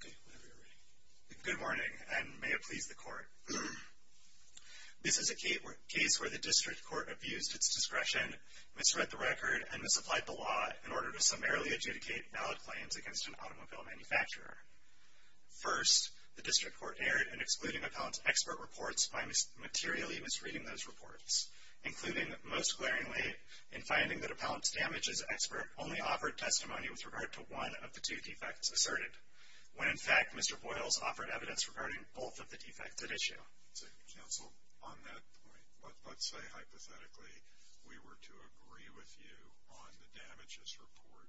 Okay, whenever you're ready. Good morning, and may it please the court. This is a case where the district court abused its discretion, misread the record, and misapplied the law in order to summarily adjudicate valid claims against an automobile manufacturer. First, the district court erred in excluding appellant's expert reports by materially misreading those reports, including, most glaringly, in finding that appellant's damages expert only offered testimony with regard to one of the two defects asserted, when, in fact, Mr. Boyles offered evidence regarding both of the defects at issue. So, counsel, on that point, let's say, hypothetically, we were to agree with you on the damages report,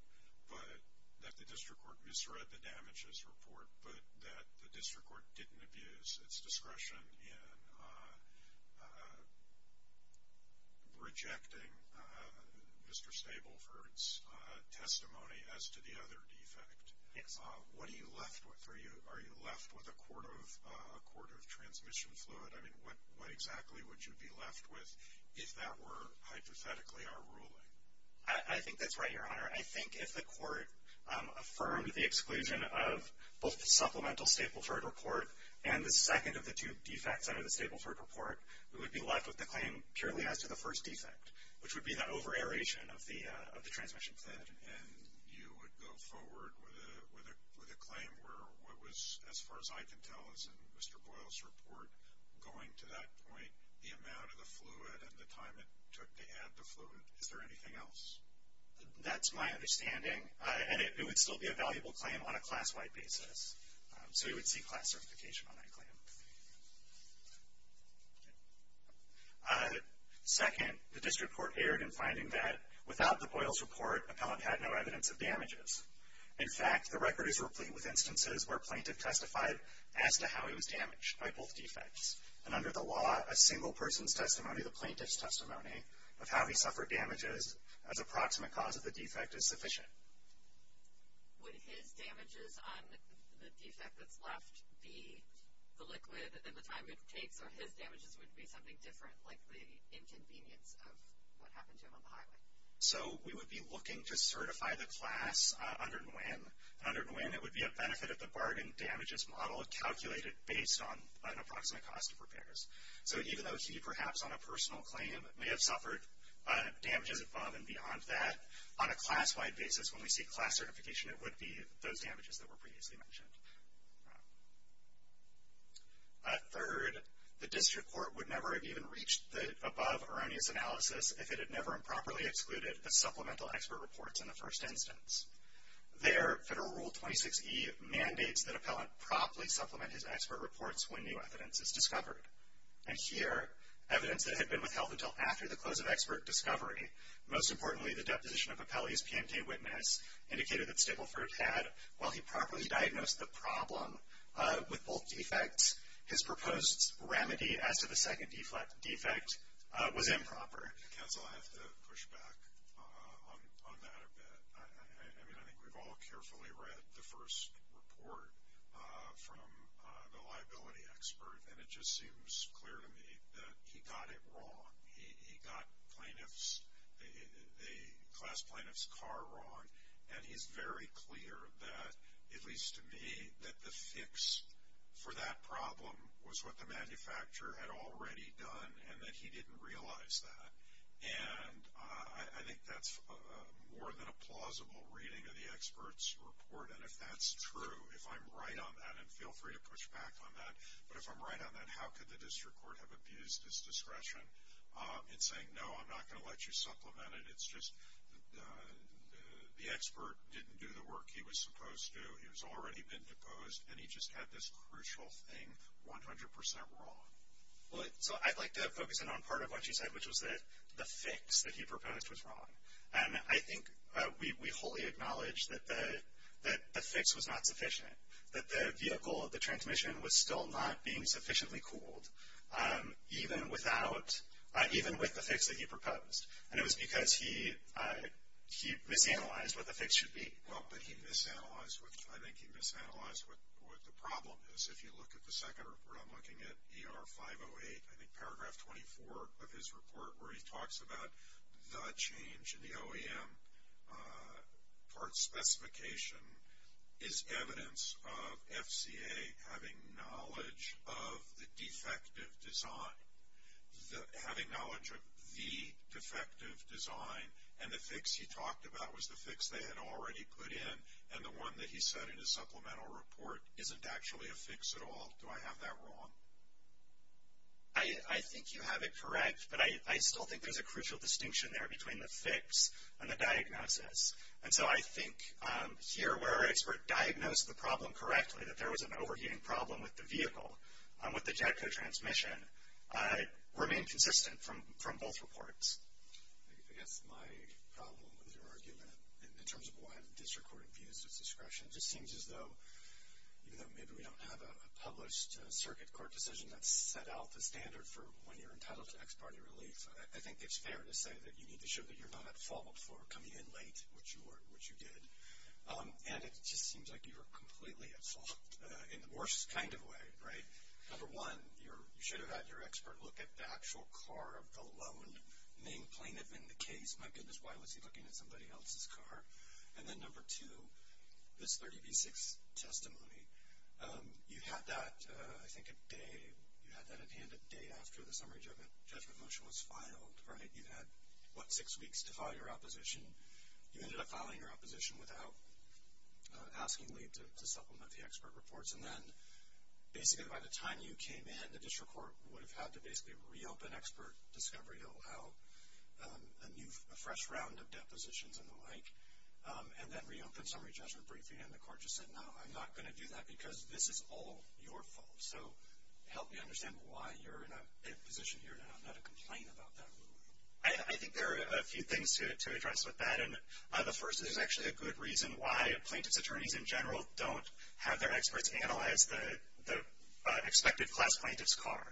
but that the district court misread the damages report, but that the district court didn't abuse its discretion in rejecting Mr. Stableford's testimony as to the other defect. Yes. What are you left with? Are you left with a court of transmission fluid? I mean, what exactly would you be left with if that were, hypothetically, our ruling? I think that's right, Your Honor. I think if the court affirmed the exclusion of both the supplemental Stapleford report and the second of the two defects under the Stapleford report, we would be left with the claim purely as to the first defect, which would be the over-aeration of the transmission fluid. And you would go forward with a claim where what was, as far as I can tell, as in Mr. Boyle's report going to that point, the amount of the fluid and the time it took to add the fluid. Is there anything else? That's my understanding, and it would still be a valuable claim on a class-wide basis. So you would see class certification on that claim. Second, the district court erred in finding that without the Boyle's report, appellant had no evidence of damages. In fact, the record is replete with instances where a plaintiff testified as to how he was damaged by both defects. And under the law, a single person's testimony, the plaintiff's testimony, of how he suffered damages as approximate cause of the defect is sufficient. Would his damages on the defect that's left be the liquid and the time it takes, or his damages would be something different, like the inconvenience of what happened to him on the highway? So we would be looking to certify the class under Nguyen. Under Nguyen, it would be a benefit of the bargain damages model calculated based on an approximate cost of repairs. So even though he, perhaps on a personal claim, may have suffered damages above and beyond that, on a class-wide basis, when we see class certification, it would be those damages that were previously mentioned. Third, the district court would never have even reached the above erroneous analysis if it had never improperly excluded the supplemental expert reports in the first instance. There, Federal Rule 26E mandates that appellant properly supplement his expert reports when new evidence is discovered. And here, evidence that had been withheld until after the close of expert discovery, most importantly the deposition of appellee's PMT witness indicated that Stapleford had, while he properly diagnosed the problem with both defects, his proposed remedy as to the second defect was improper. I guess I'll have to push back on that a bit. I mean, I think we've all carefully read the first report from the liability expert, and it just seems clear to me that he got it wrong. He got the class plaintiff's car wrong, and he's very clear that, at least to me, that the fix for that problem was what the manufacturer had already done and that he didn't realize that. And I think that's more than a plausible reading of the expert's report. And if that's true, if I'm right on that, and feel free to push back on that, but if I'm right on that, how could the district court have abused his discretion in saying, no, I'm not going to let you supplement it. It's just the expert didn't do the work he was supposed to. He was already been deposed, and he just had this crucial thing 100% wrong. So I'd like to focus in on part of what you said, which was that the fix that he proposed was wrong. And I think we wholly acknowledge that the fix was not sufficient, that the vehicle, the transmission was still not being sufficiently cooled, even with the fix that he proposed. And it was because he misanalyzed what the fix should be. Well, but he misanalyzed, I think he misanalyzed what the problem is. If you look at the second report, I'm looking at ER 508, I think paragraph 24 of his report, where he talks about the change in the OEM part specification is evidence of FCA having knowledge of the defective design. Having knowledge of the defective design, and the fix he talked about was the fix they had already put in, and the one that he said in his supplemental report isn't actually a fix at all. Do I have that wrong? I think you have it correct, but I still think there's a crucial distinction there between the fix and the diagnosis. And so I think here where our expert diagnosed the problem correctly, that there was an overheating problem with the vehicle, with the JETCO transmission, remained consistent from both reports. I guess my problem with your argument, in terms of why the district court abused its discretion, just seems as though, even though maybe we don't have a published circuit court decision that set out the standard for when you're entitled to ex parte relief, I think it's fair to say that you need to show that you're not at fault for coming in late, which you did. And it just seems like you were completely at fault, in the worst kind of way, right? Number one, you should have had your expert look at the actual car of the lone named plaintiff in the case. My goodness, why was he looking at somebody else's car? And then number two, this 30B6 testimony. You had that, I think a day, you had that in hand a day after the summary judgment motion was filed, right? You had, what, six weeks to file your opposition. You ended up filing your opposition without asking Lee to supplement the expert reports. And then, basically, by the time you came in, the district court would have had to basically reopen expert discovery to allow a new, a fresh round of depositions and the like, and then reopen summary judgment briefing. And the court just said, no, I'm not going to do that because this is all your fault. So help me understand why you're in a position here now not to complain about that. I think there are a few things to address with that. And the first is actually a good reason why plaintiff's attorneys, in general, don't have their experts analyze the expected class plaintiff's car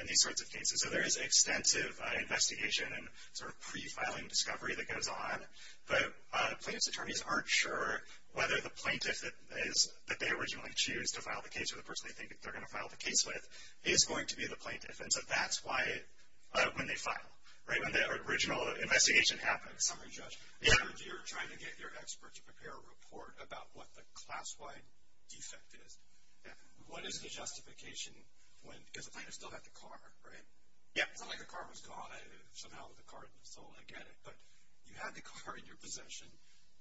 in these sorts of cases. So there is extensive investigation and sort of pre-filing discovery that goes on. But plaintiff's attorneys aren't sure whether the plaintiff that they originally choose to file the case or the person they think they're going to file the case with is going to be the plaintiff. And so that's why, when they file, right, when the original investigation happens. Summary judge, if you're trying to get your expert to prepare a report about what the class-wide defect is, what is the justification when, because the plaintiff still had the car, right? Yeah. It's not like the car was gone. Somehow the car is still, I get it. But you had the car in your possession,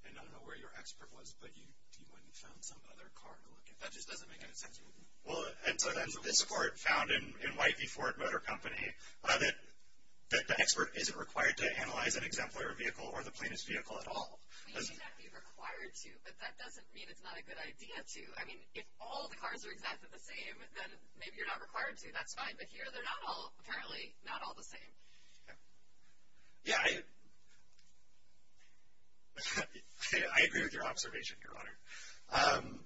and I don't know where your expert was, but you went and found some other car to look at. That just doesn't make any sense to me. Well, and so then this court found in White v. Ford Motor Company that the expert isn't required to analyze an exemplary vehicle or the plaintiff's vehicle at all. Well, you should not be required to, but that doesn't mean it's not a good idea to. I mean, if all the cars are exactly the same, then maybe you're not required to. That's fine. But here they're not all, apparently, not all the same. Yeah, I agree with your observation, Your Honor.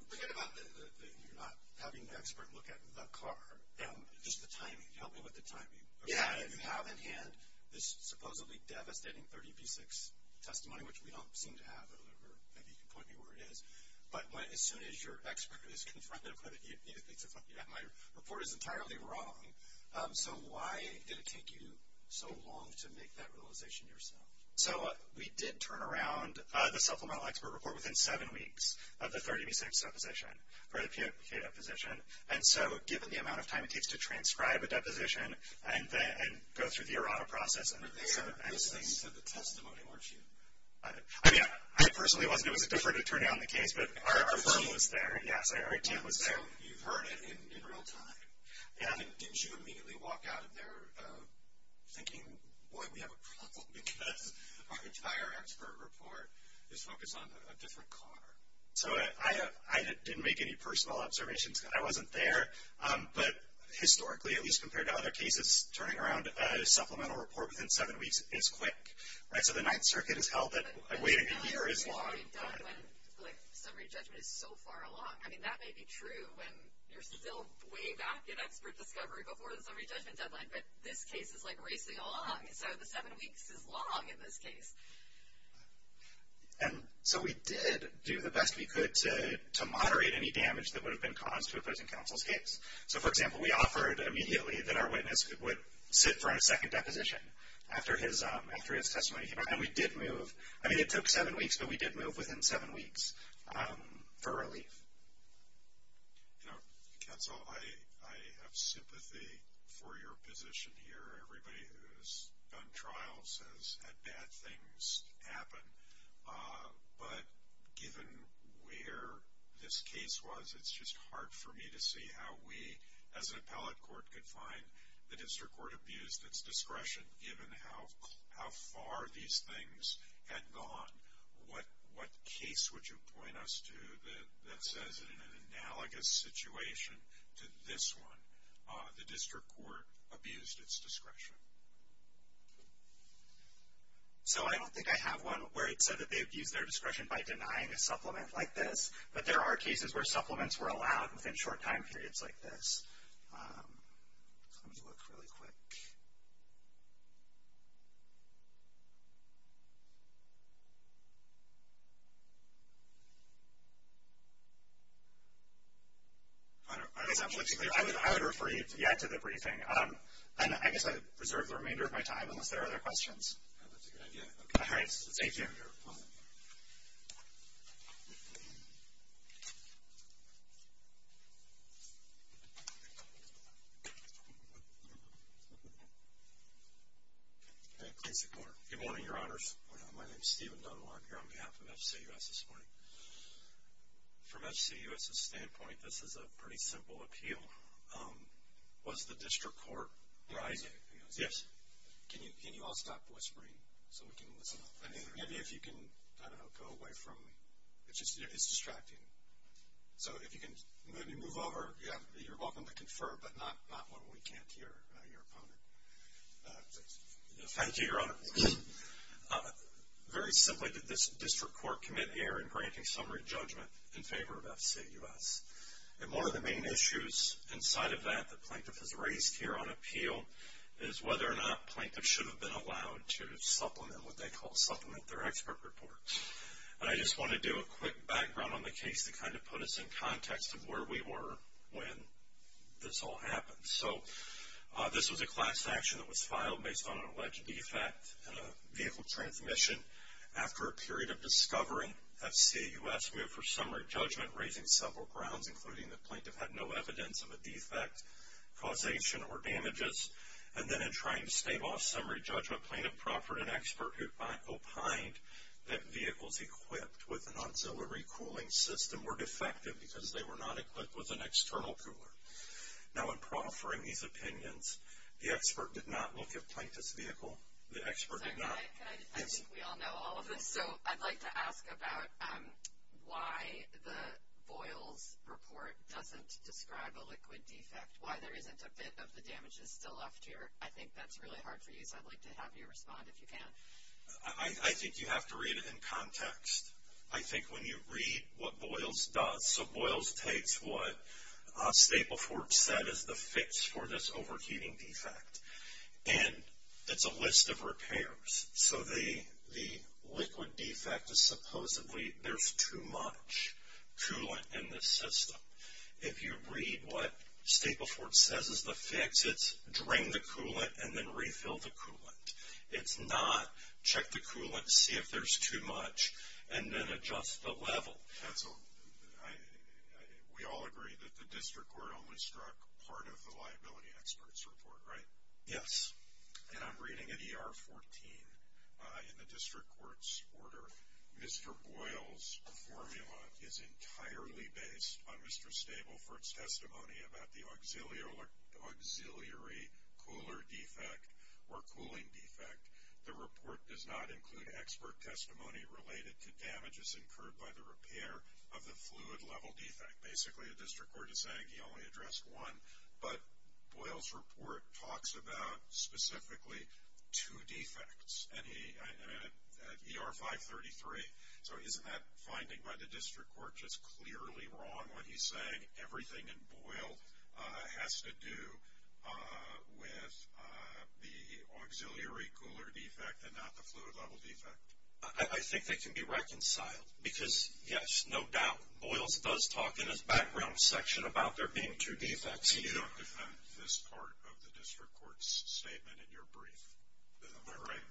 Forget about the, you're not having the expert look at the car. Just the timing. Help me with the timing. Yeah. You have in hand this supposedly devastating 30 v. 6 testimony, which we don't seem to have, or maybe you can point me where it is. But as soon as your expert is confronted with it, my report is entirely wrong. So why did it take you so long to make that realization yourself? So we did turn around the supplemental expert report within seven weeks of the 30 v. 6 deposition, or the P.A. deposition. And so given the amount of time it takes to transcribe a deposition and go through the errata process and so on. You said the testimony, weren't you? I mean, I personally wasn't. It was a deferred attorney on the case, but our firm was there. Yes, our team was there. So you've heard it in real time. Yeah. And didn't you immediately walk out of there thinking, boy, we have a problem because our entire expert report is focused on a different car? So I didn't make any personal observations. I wasn't there. But historically, at least compared to other cases, turning around a supplemental report within seven weeks is quick. Right? So the Ninth Circuit has held that waiting a year is long time. It's only done when summary judgment is so far along. I mean, that may be true when you're still way back in expert discovery before the summary judgment deadline, but this case is like racing along. So the seven weeks is long in this case. And so we did do the best we could to moderate any damage that would have been caused to opposing counsel's case. So, for example, we offered immediately that our witness would sit for a second deposition after his testimony came out. And we did move. I mean, it took seven weeks, but we did move within seven weeks for relief. You know, counsel, I have sympathy for your position here. Everybody who has done trials has had bad things happen. But given where this case was, it's just hard for me to see how we as an appellate court could find the case that had gone. What case would you point us to that says, in an analogous situation to this one, the district court abused its discretion? So I don't think I have one where it said that they abused their discretion by denying a supplement like this. But there are cases where supplements were allowed within short time periods like this. Let me look really quick. I would refer you, yeah, to the briefing. And I guess I reserve the remainder of my time unless there are other questions. That's a good idea. All right. Thank you. Good morning, Your Honors. My name is Stephen Dunlap. I'm here on behalf of FCUS this morning. From FCUS's standpoint, this is a pretty simple appeal. Was the district court rising? Yes. Can you all stop whispering so we can listen? Maybe if you can, I don't know, go away from me. It's distracting. So if you can move over. You're welcome to confer, but not when we can't hear your opponent. Thank you, Your Honors. Very simply, did this district court commit error in granting summary judgment in favor of FCUS? And one of the main issues inside of that that Plaintiff has raised here on appeal is whether or not Plaintiff should have been allowed to supplement what they call supplement their expert report. And I just want to do a quick background on the case to kind of put us in when this all happened. So this was a class action that was filed based on an alleged defect in a vehicle transmission. After a period of discovering, FCUS moved for summary judgment, raising several grounds, including that Plaintiff had no evidence of a defect, causation, or damages. And then in trying to stave off summary judgment, Plaintiff proffered an expert who opined that vehicles equipped with an external cooler. Now in proffering these opinions, the expert did not look at Plaintiff's vehicle. The expert did not. I think we all know all of this. So I'd like to ask about why the Boyles report doesn't describe a liquid defect, why there isn't a bit of the damages still left here. I think that's really hard for you, so I'd like to have you respond if you can. I think you have to read it in context. I think when you read what Boyles does. So Boyles takes what Stapleford said is the fix for this overheating defect, and it's a list of repairs. So the liquid defect is supposedly there's too much coolant in the system. If you read what Stapleford says is the fix, it's drain the coolant and then refill the coolant. It's not check the coolant, see if there's too much, and then adjust the level. We all agree that the district court only struck part of the liability expert's report, right? Yes. And I'm reading an ER 14 in the district court's order. Mr. Boyle's formula is entirely based on Mr. Stapleford's testimony about the auxiliary cooler defect or cooling defect. The report does not include expert testimony related to damages incurred by the repair of the fluid level defect. Basically the district court is saying he only addressed one, but Boyle's report talks about specifically two defects. And at ER 533, so isn't that finding by the district court just clearly wrong when he's saying everything in Boyle has to do with the auxiliary cooler defect and not the fluid level defect? I think they can be reconciled because, yes, no doubt, Boyle's does talk in his background section about there being two defects. And you don't defend this part of the district court's statement in your brief? Am I right?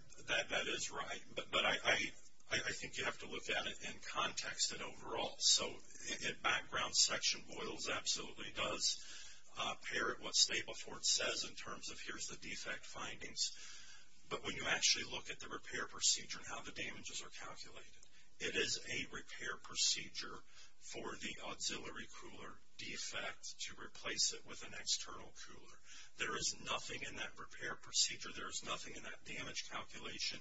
That is right. But I think you have to look at it in context and overall. So in background section, Boyle's absolutely does parrot what Stapleford says in terms of here's the defect findings. But when you actually look at the repair procedure and how the damages are calculated, it is a repair procedure for the auxiliary cooler defect to replace it with an external cooler. There is nothing in that repair procedure, there is nothing in that damage calculation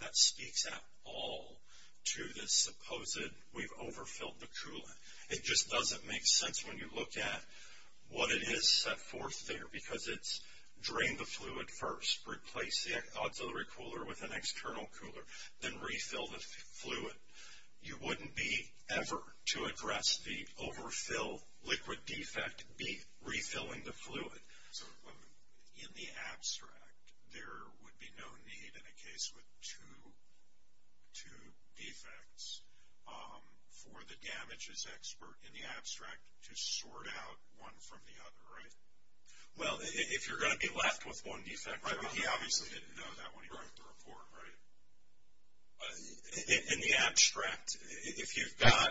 that speaks at all to this supposed we've overfilled the coolant. It just doesn't make sense when you look at what it is set forth there because it's drain the fluid first, replace the auxiliary cooler with an external cooler, then refill the fluid. You wouldn't be ever to address the overfill liquid defect be refilling the fluid. So in the abstract, there would be no need in a case with two defects for the damages expert in the abstract to sort out one from the other, right? Well, if you're going to be left with one defect, he obviously didn't know that when he wrote the report, right? In the abstract, if you've got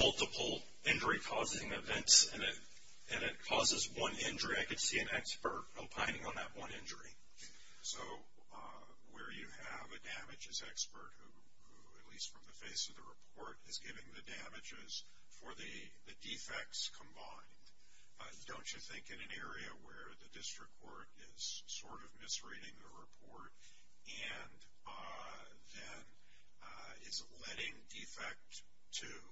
multiple injury-causing events in it and it causes one injury, I could see an expert opining on that one injury. So where you have a damages expert who, at least from the face of the report, is giving the damages for the defects combined, don't you think in an area where the district court is sort of misreading the report and then is letting defect two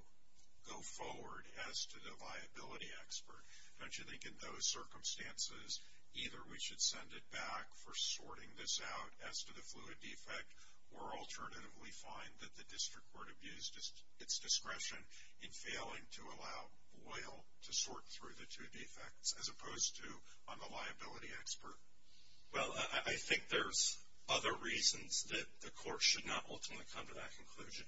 go forward as to the viability expert, don't you think in those circumstances, either we should send it back for sorting this out as to the fluid defect or alternatively find that the district court abused its discretion in failing to allow Boyle to sort through the two defects as opposed to on the liability expert? Well, I think there's other reasons that the court should not ultimately come to that conclusion.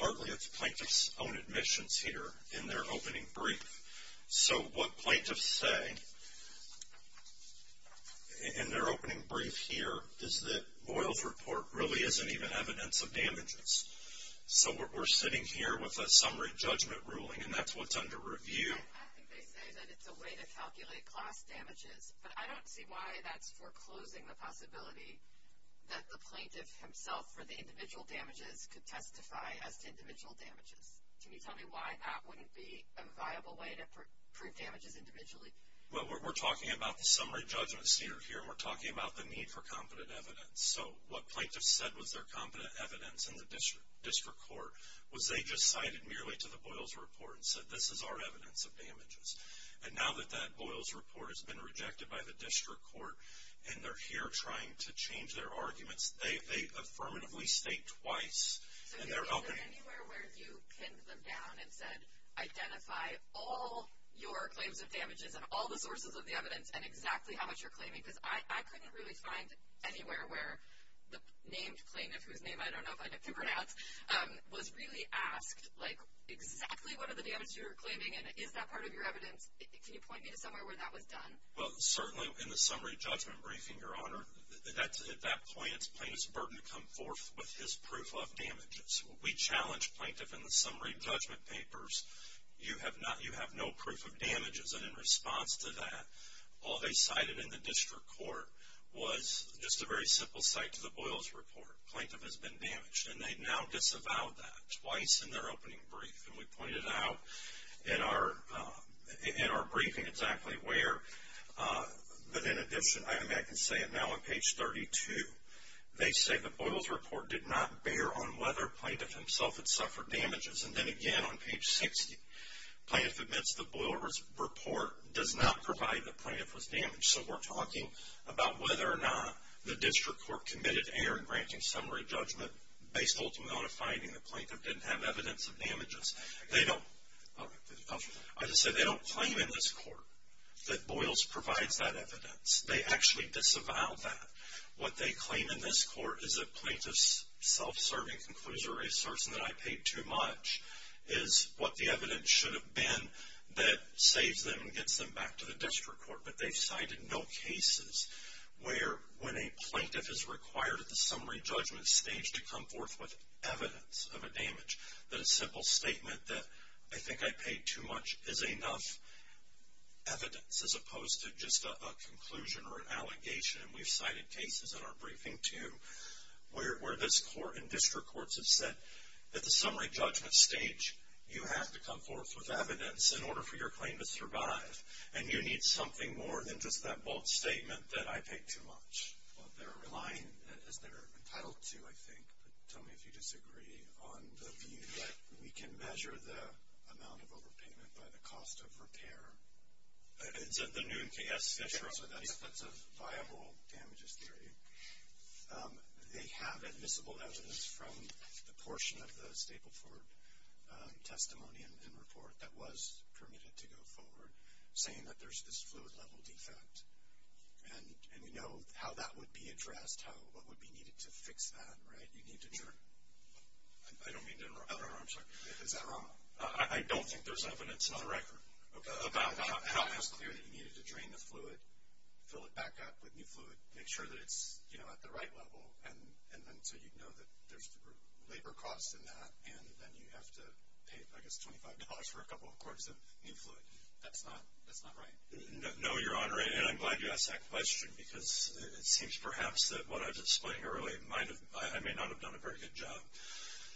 Partly it's plaintiff's own admissions here in their opening brief. So what plaintiffs say in their opening brief here is that Boyle's report really isn't even evidence of damages. So we're sitting here with a summary judgment ruling, and that's what's under review. I think they say that it's a way to calculate class damages, but I don't see why that's foreclosing the possibility that the plaintiff himself for the individual damages could testify as to individual damages. Can you tell me why that wouldn't be a viable way to prove damages individually? Well, we're talking about the summary judgment standard here, and we're talking about the need for competent evidence. So what plaintiffs said was their competent evidence in the district court was they just cited merely to the Boyle's report and said, this is our evidence of damages. And now that that Boyle's report has been rejected by the district court and they're here trying to change their arguments, they affirmatively state twice in their opening. So is there anywhere where you pinned them down and said, identify all your claims of damages and all the sources of the evidence and exactly how much you're claiming? Because I couldn't really find anywhere where the named plaintiff, whose name I don't know if I get to pronounce, was really asked, like, exactly what are the damages you're claiming and is that part of your evidence? Can you point me to somewhere where that was done? Well, certainly in the summary judgment briefing, Your Honor, at that point it's plaintiff's burden to come forth with his proof of damages. We challenge plaintiff in the summary judgment papers. You have no proof of damages, and in response to that, all they cited in the district court was just a very simple cite to the Boyle's report. Plaintiff has been damaged. And they now disavow that twice in their opening brief. And we pointed out in our briefing exactly where. But in addition, I can say it now on page 32, they say the Boyle's report did not bear on whether plaintiff himself had suffered damages. And then again on page 60, plaintiff admits the Boyle's report does not provide that plaintiff was damaged. So we're talking about whether or not the district court committed error in granting summary judgment based ultimately on a finding the plaintiff didn't have evidence of damages. They don't claim in this court that Boyle's provides that evidence. They actually disavow that. What they claim in this court is that plaintiff's self-serving conclusion or assertion that I paid too much is what the evidence should have been that saves them and gets them back to the district court. But they've cited no cases where when a plaintiff is required at the summary judgment stage to come forth with evidence of a damage, that a simple statement that I think I paid too much is enough evidence as opposed to just a conclusion or an allegation. And we've cited cases in our briefing, too, where this court and district courts have said at the summary judgment stage, you have to come forth with evidence in order for your claim to survive, and you need something more than just that bold statement that I paid too much. Well, they're relying as they're entitled to, I think. Tell me if you disagree on the view that we can measure the amount of overpayment by the cost of repair. It's the noon case. That's a viable damages theory. They have admissible evidence from the portion of the Stapleford testimony and report that was permitted to go forward saying that there's this fluid-level defect. And we know how that would be addressed, what would be needed to fix that, right? You'd need to turn it. I don't mean to interrupt. I'm sorry. Is that wrong? I don't think there's evidence on the record about how it was clear that you needed to drain the fluid, fill it back up with new fluid, make sure that it's at the right level, and then so you'd know that there's labor costs in that, and then you have to pay, I guess, $25 for a couple of quarts of new fluid. That's not right. No, Your Honor, and I'm glad you asked that question because it seems perhaps that what I was explaining earlier I may not have done a very good job.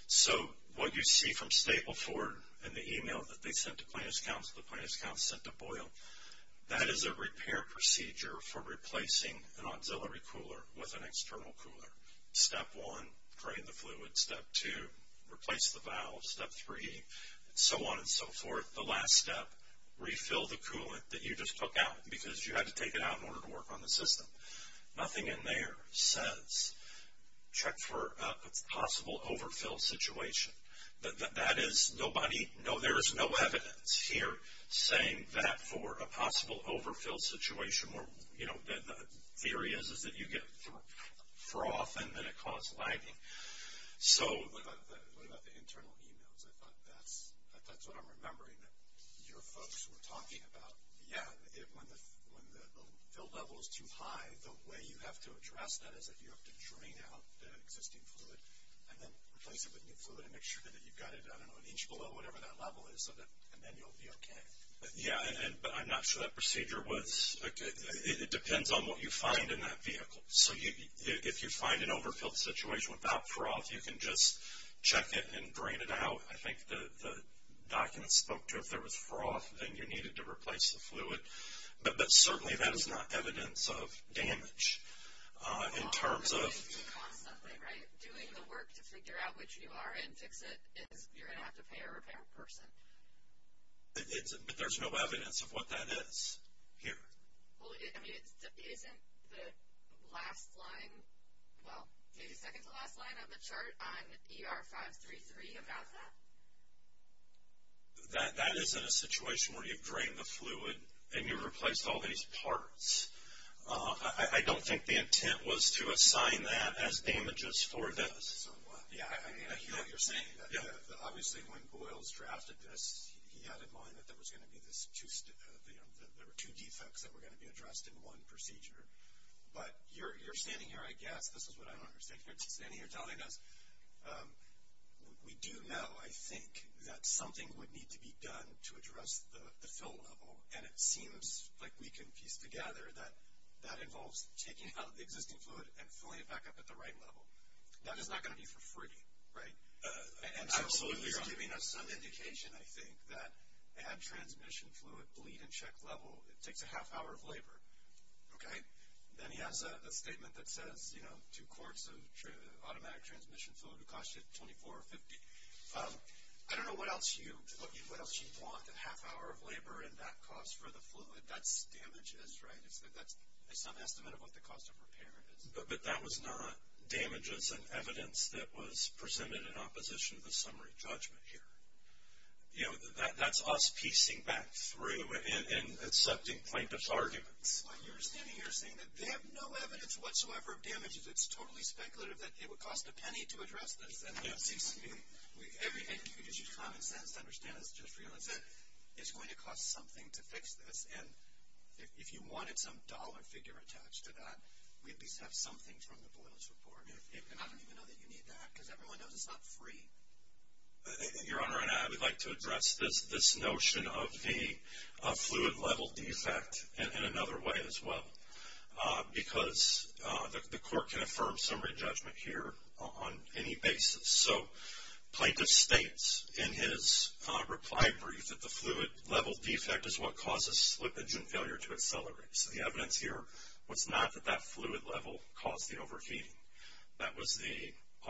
So what you see from Stapleford in the email that they sent to plaintiff's counsel, the plaintiff's counsel sent to Boyle, that is a repair procedure for replacing an auxiliary cooler with an external cooler. Step one, drain the fluid. Step two, replace the valve. Step three, and so on and so forth. The last step, refill the coolant that you just took out because you had to take it out in order to work on the system. Nothing in there says check for a possible overfill situation. That is nobody, no, there is no evidence here saying that for a possible overfill situation where, you know, the theory is that you get froth and then it causes lagging. So. What about the internal emails? I thought that's what I'm remembering that your folks were talking about. Yeah, when the fill level is too high, the way you have to address that is that you have to drain out the existing fluid and then replace it with new fluid and make sure that you've got it, I don't know, an inch below whatever that level is and then you'll be okay. Yeah, but I'm not sure that procedure was, it depends on what you find in that vehicle. So if you find an overfill situation without froth, you can just check it and drain it out. I think the document spoke to if there was froth, then you needed to replace the fluid. But certainly that is not evidence of damage. In terms of. Constantly, right? Doing the work to figure out which you are and fix it, you're going to have to pay a repair person. But there's no evidence of what that is here. Well, I mean, isn't the last line, well, maybe second to last line on the chart on ER 533 about that? That is in a situation where you've drained the fluid and you've replaced all these parts. I don't think the intent was to assign that as damages for this. Yeah, I mean, I hear what you're saying. Obviously when Boyles drafted this, he had in mind that there were two defects that were going to be addressed in one procedure. But you're standing here, I guess, this is what I understand, you're standing here telling us we do know, I think, that something would need to be done to address the fill level. And it seems like we can piece together that that involves taking out the existing fluid and filling it back up at the right level. That is not going to be for free, right? And so he was giving us some indication, I think, that add transmission fluid, bleed and check level, it takes a half hour of labor. Okay? Then he has a statement that says, you know, two quarts of automatic transmission fluid will cost you $24 or $50. I don't know what else you want, a half hour of labor, and that costs for the fluid. That's damages, right? That's some estimate of what the cost of repair is. But that was not damages and evidence that was presented in opposition to the summary judgment here. You know, that's us piecing back through and accepting plaintiff's arguments. Well, you're standing here saying that they have no evidence whatsoever of damages. It's totally speculative that it would cost a penny to address this. And it seems to me, and you can use your common sense to understand this, just realize that it's going to cost something to fix this. And if you wanted some dollar figure attached to that, we at least have something from the Boyle's report. And I don't even know that you need that because everyone knows it's not free. Your Honor, I would like to address this notion of the fluid level defect in another way as well because the court can affirm summary judgment here on any basis. So plaintiff states in his reply brief that the fluid level defect is what causes slippage and failure to accelerate. So the evidence here was not that that fluid level caused the overfeeding. That was the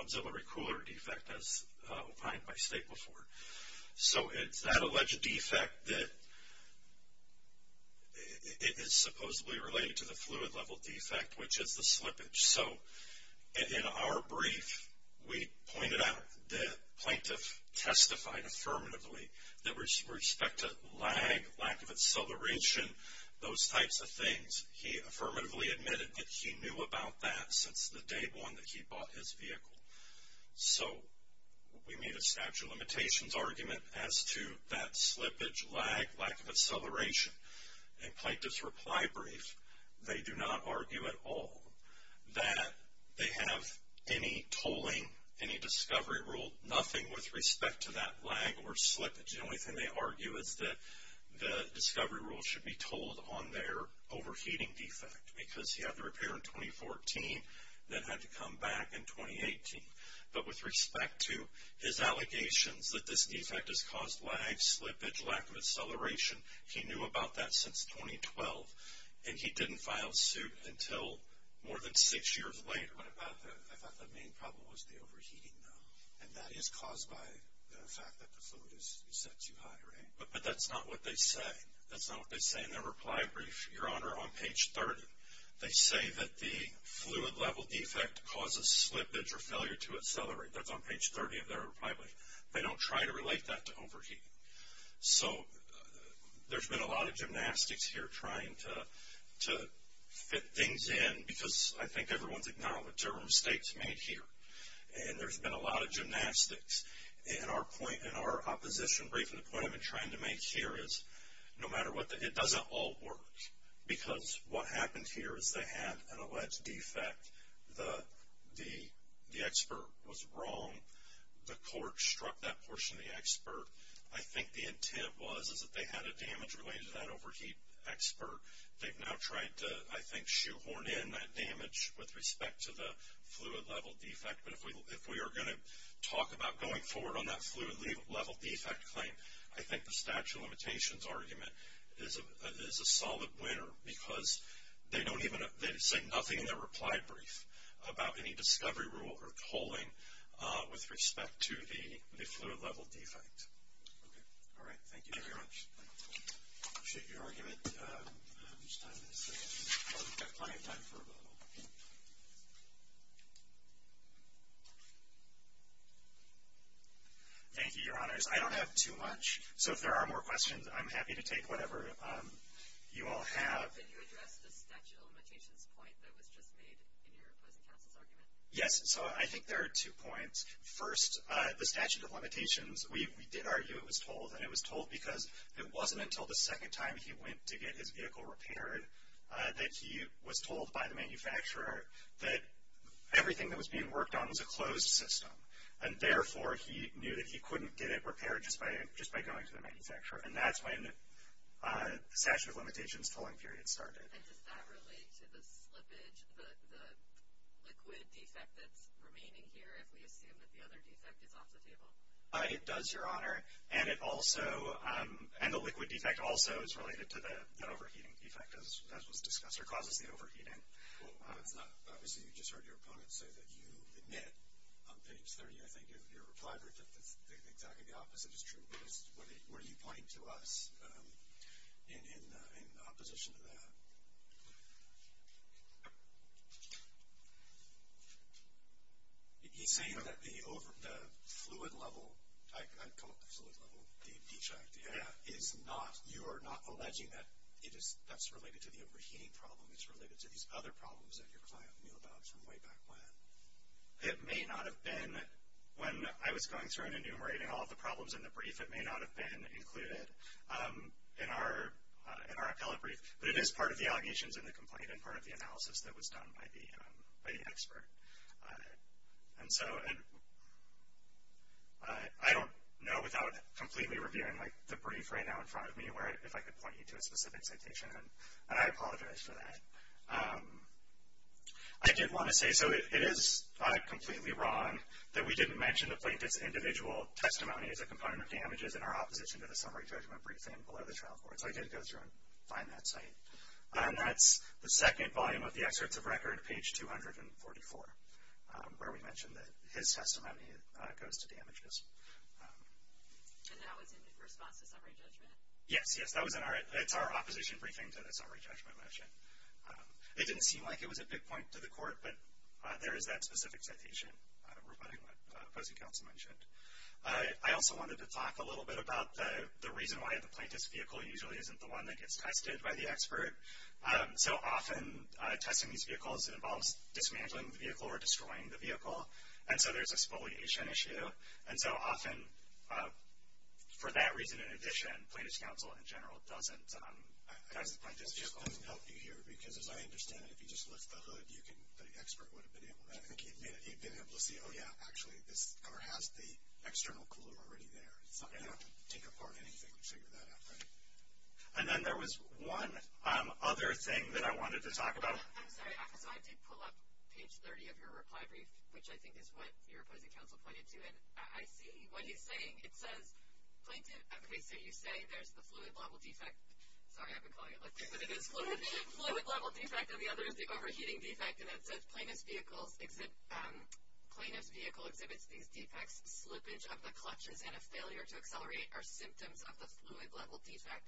auxiliary cooler defect, as opined by State before. So it's that alleged defect that is supposedly related to the fluid level defect, which is the slippage. So in our brief, we pointed out that plaintiff testified affirmatively that with respect to lag, lack of acceleration, those types of things, he affirmatively admitted that he knew about that since the day one that he bought his vehicle. So we made a statute of limitations argument as to that slippage, lag, lack of acceleration. In plaintiff's reply brief, they do not argue at all that they have any tolling, any discovery rule, nothing with respect to that lag or slippage. The only thing they argue is that the discovery rule should be tolled on their overheating defect because he had the repair in 2014, then had to come back in 2018. But with respect to his allegations that this defect has caused lag, slippage, lack of acceleration, he knew about that since 2012, and he didn't file suit until more than six years later. I thought the main problem was the overheating, though, and that is caused by the fact that the fluid is set too high, right? But that's not what they say. That's not what they say in their reply brief, Your Honor, on page 30. They say that the fluid level defect causes slippage or failure to accelerate. That's on page 30 of their reply brief. They don't try to relate that to overheating. So there's been a lot of gymnastics here trying to fit things in because I think everyone's acknowledged there were mistakes made here, and there's been a lot of gymnastics in our opposition brief. And the point I've been trying to make here is no matter what, it doesn't all work because what happened here is they had an alleged defect. The expert was wrong. The court struck that portion of the expert. I think the intent was that they had a damage related to that overheat expert. They've now tried to, I think, shoehorn in that damage with respect to the fluid level defect. But if we are going to talk about going forward on that fluid level defect claim, I think the statute of limitations argument is a solid winner because they don't even say nothing in their reply brief about any discovery rule or polling with respect to the fluid level defect. All right. Thank you very much. I appreciate your argument. We've got plenty of time for a vote. Thank you, Your Honors. I don't have too much. So if there are more questions, I'm happy to take whatever you all have. in your opposing counsel's argument? Yes. So I think there are two points. First, the statute of limitations, we did argue it was told. And it was told because it wasn't until the second time he went to get his vehicle repaired that he was told by the manufacturer that everything that was being worked on was a closed system. And therefore, he knew that he couldn't get it repaired just by going to the manufacturer. And that's when the statute of limitations polling period started. And does that relate to the slippage, the liquid defect that's remaining here, if we assume that the other defect is off the table? It does, Your Honor. And the liquid defect also is related to the overheating defect, as was discussed, or causes the overheating. Obviously, you just heard your opponent say that you admit on page 30, I think, in your reply brief that the exact opposite is true. What are you pointing to us in opposition to that? He's saying that the fluid level, I call it the fluid level, the defect, is not, you are not alleging that that's related to the overheating problem. It's related to these other problems that your client knew about from way back when. It may not have been. When I was going through and enumerating all the problems in the brief, it may not have been included in our appellate brief. But it is part of the allegations in the complaint and part of the analysis that was done by the expert. And so I don't know without completely reviewing the brief right now in front of me if I could point you to a specific citation. And I apologize for that. I did want to say, so it is not completely wrong that we didn't mention the plaintiff's individual testimony as a component of damages in our opposition to the summary judgment briefing below the trial board. So I did go through and find that site. And that's the second volume of the excerpts of record, page 244, where we mentioned that his testimony goes to damages. And that was in response to summary judgment? Yes, yes. It's our opposition briefing to the summary judgment motion. It didn't seem like it was a big point to the court, but there is that specific citation regarding what opposing counsel mentioned. I also wanted to talk a little bit about the reason why the plaintiff's vehicle usually isn't the one that gets tested by the expert. So often testing these vehicles involves dismantling the vehicle or destroying the vehicle. And so there's a spoliation issue. And so often, for that reason in addition, plaintiff's counsel in general doesn't like this vehicle. It just doesn't help you here because, as I understand it, if you just lift the hood, the expert would have been able to see, oh, yeah, actually this car has the external cooler already there. It's not going to have to take apart anything to figure that out, right? And then there was one other thing that I wanted to talk about. I'm sorry. So I did pull up page 30 of your reply brief, which I think is what your opposing counsel pointed to. And I see what he's saying. It says plaintiff, okay, so you say there's the fluid level defect. Sorry, I've been calling it liquid, but it is fluid level defect. And the other is the overheating defect. And it says plaintiff's vehicle exhibits these defects. Slippage of the clutches and a failure to accelerate are symptoms of the fluid level defect.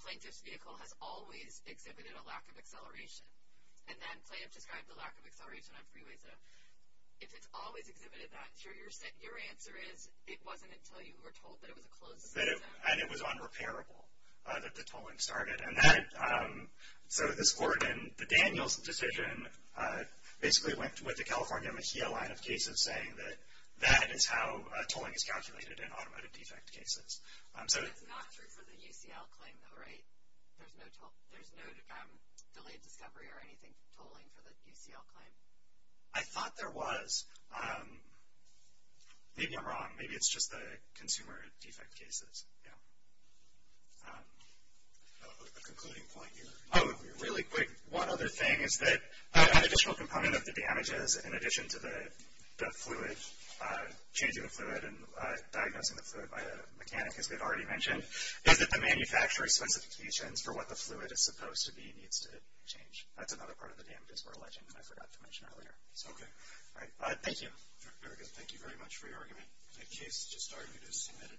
Plaintiff's vehicle has always exhibited a lack of acceleration. And then plaintiff described the lack of acceleration on freeways. If it's always exhibited that, your answer is it wasn't until you were told that it was a closed system. And it was unrepairable that the tolling started. And so this court in the Daniels decision basically went with the California Mejia line of cases saying that that is how tolling is calculated in automotive defect cases. That's not true for the UCL claim, though, right? There's no delayed discovery or anything tolling for the UCL claim? I thought there was. Maybe I'm wrong. Maybe it's just the consumer defect cases. A concluding point here. Oh, really quick. One other thing is that an additional component of the damages, in addition to the fluid, changing the fluid and diagnosing the fluid by a mechanic, as they've already mentioned, is that the manufacturer's specifications for what the fluid is supposed to be needs to change. That's another part of the damages we're alleging, and I forgot to mention earlier. Okay. Thank you. Very good. Thank you very much for your argument. The case just argued is submitted.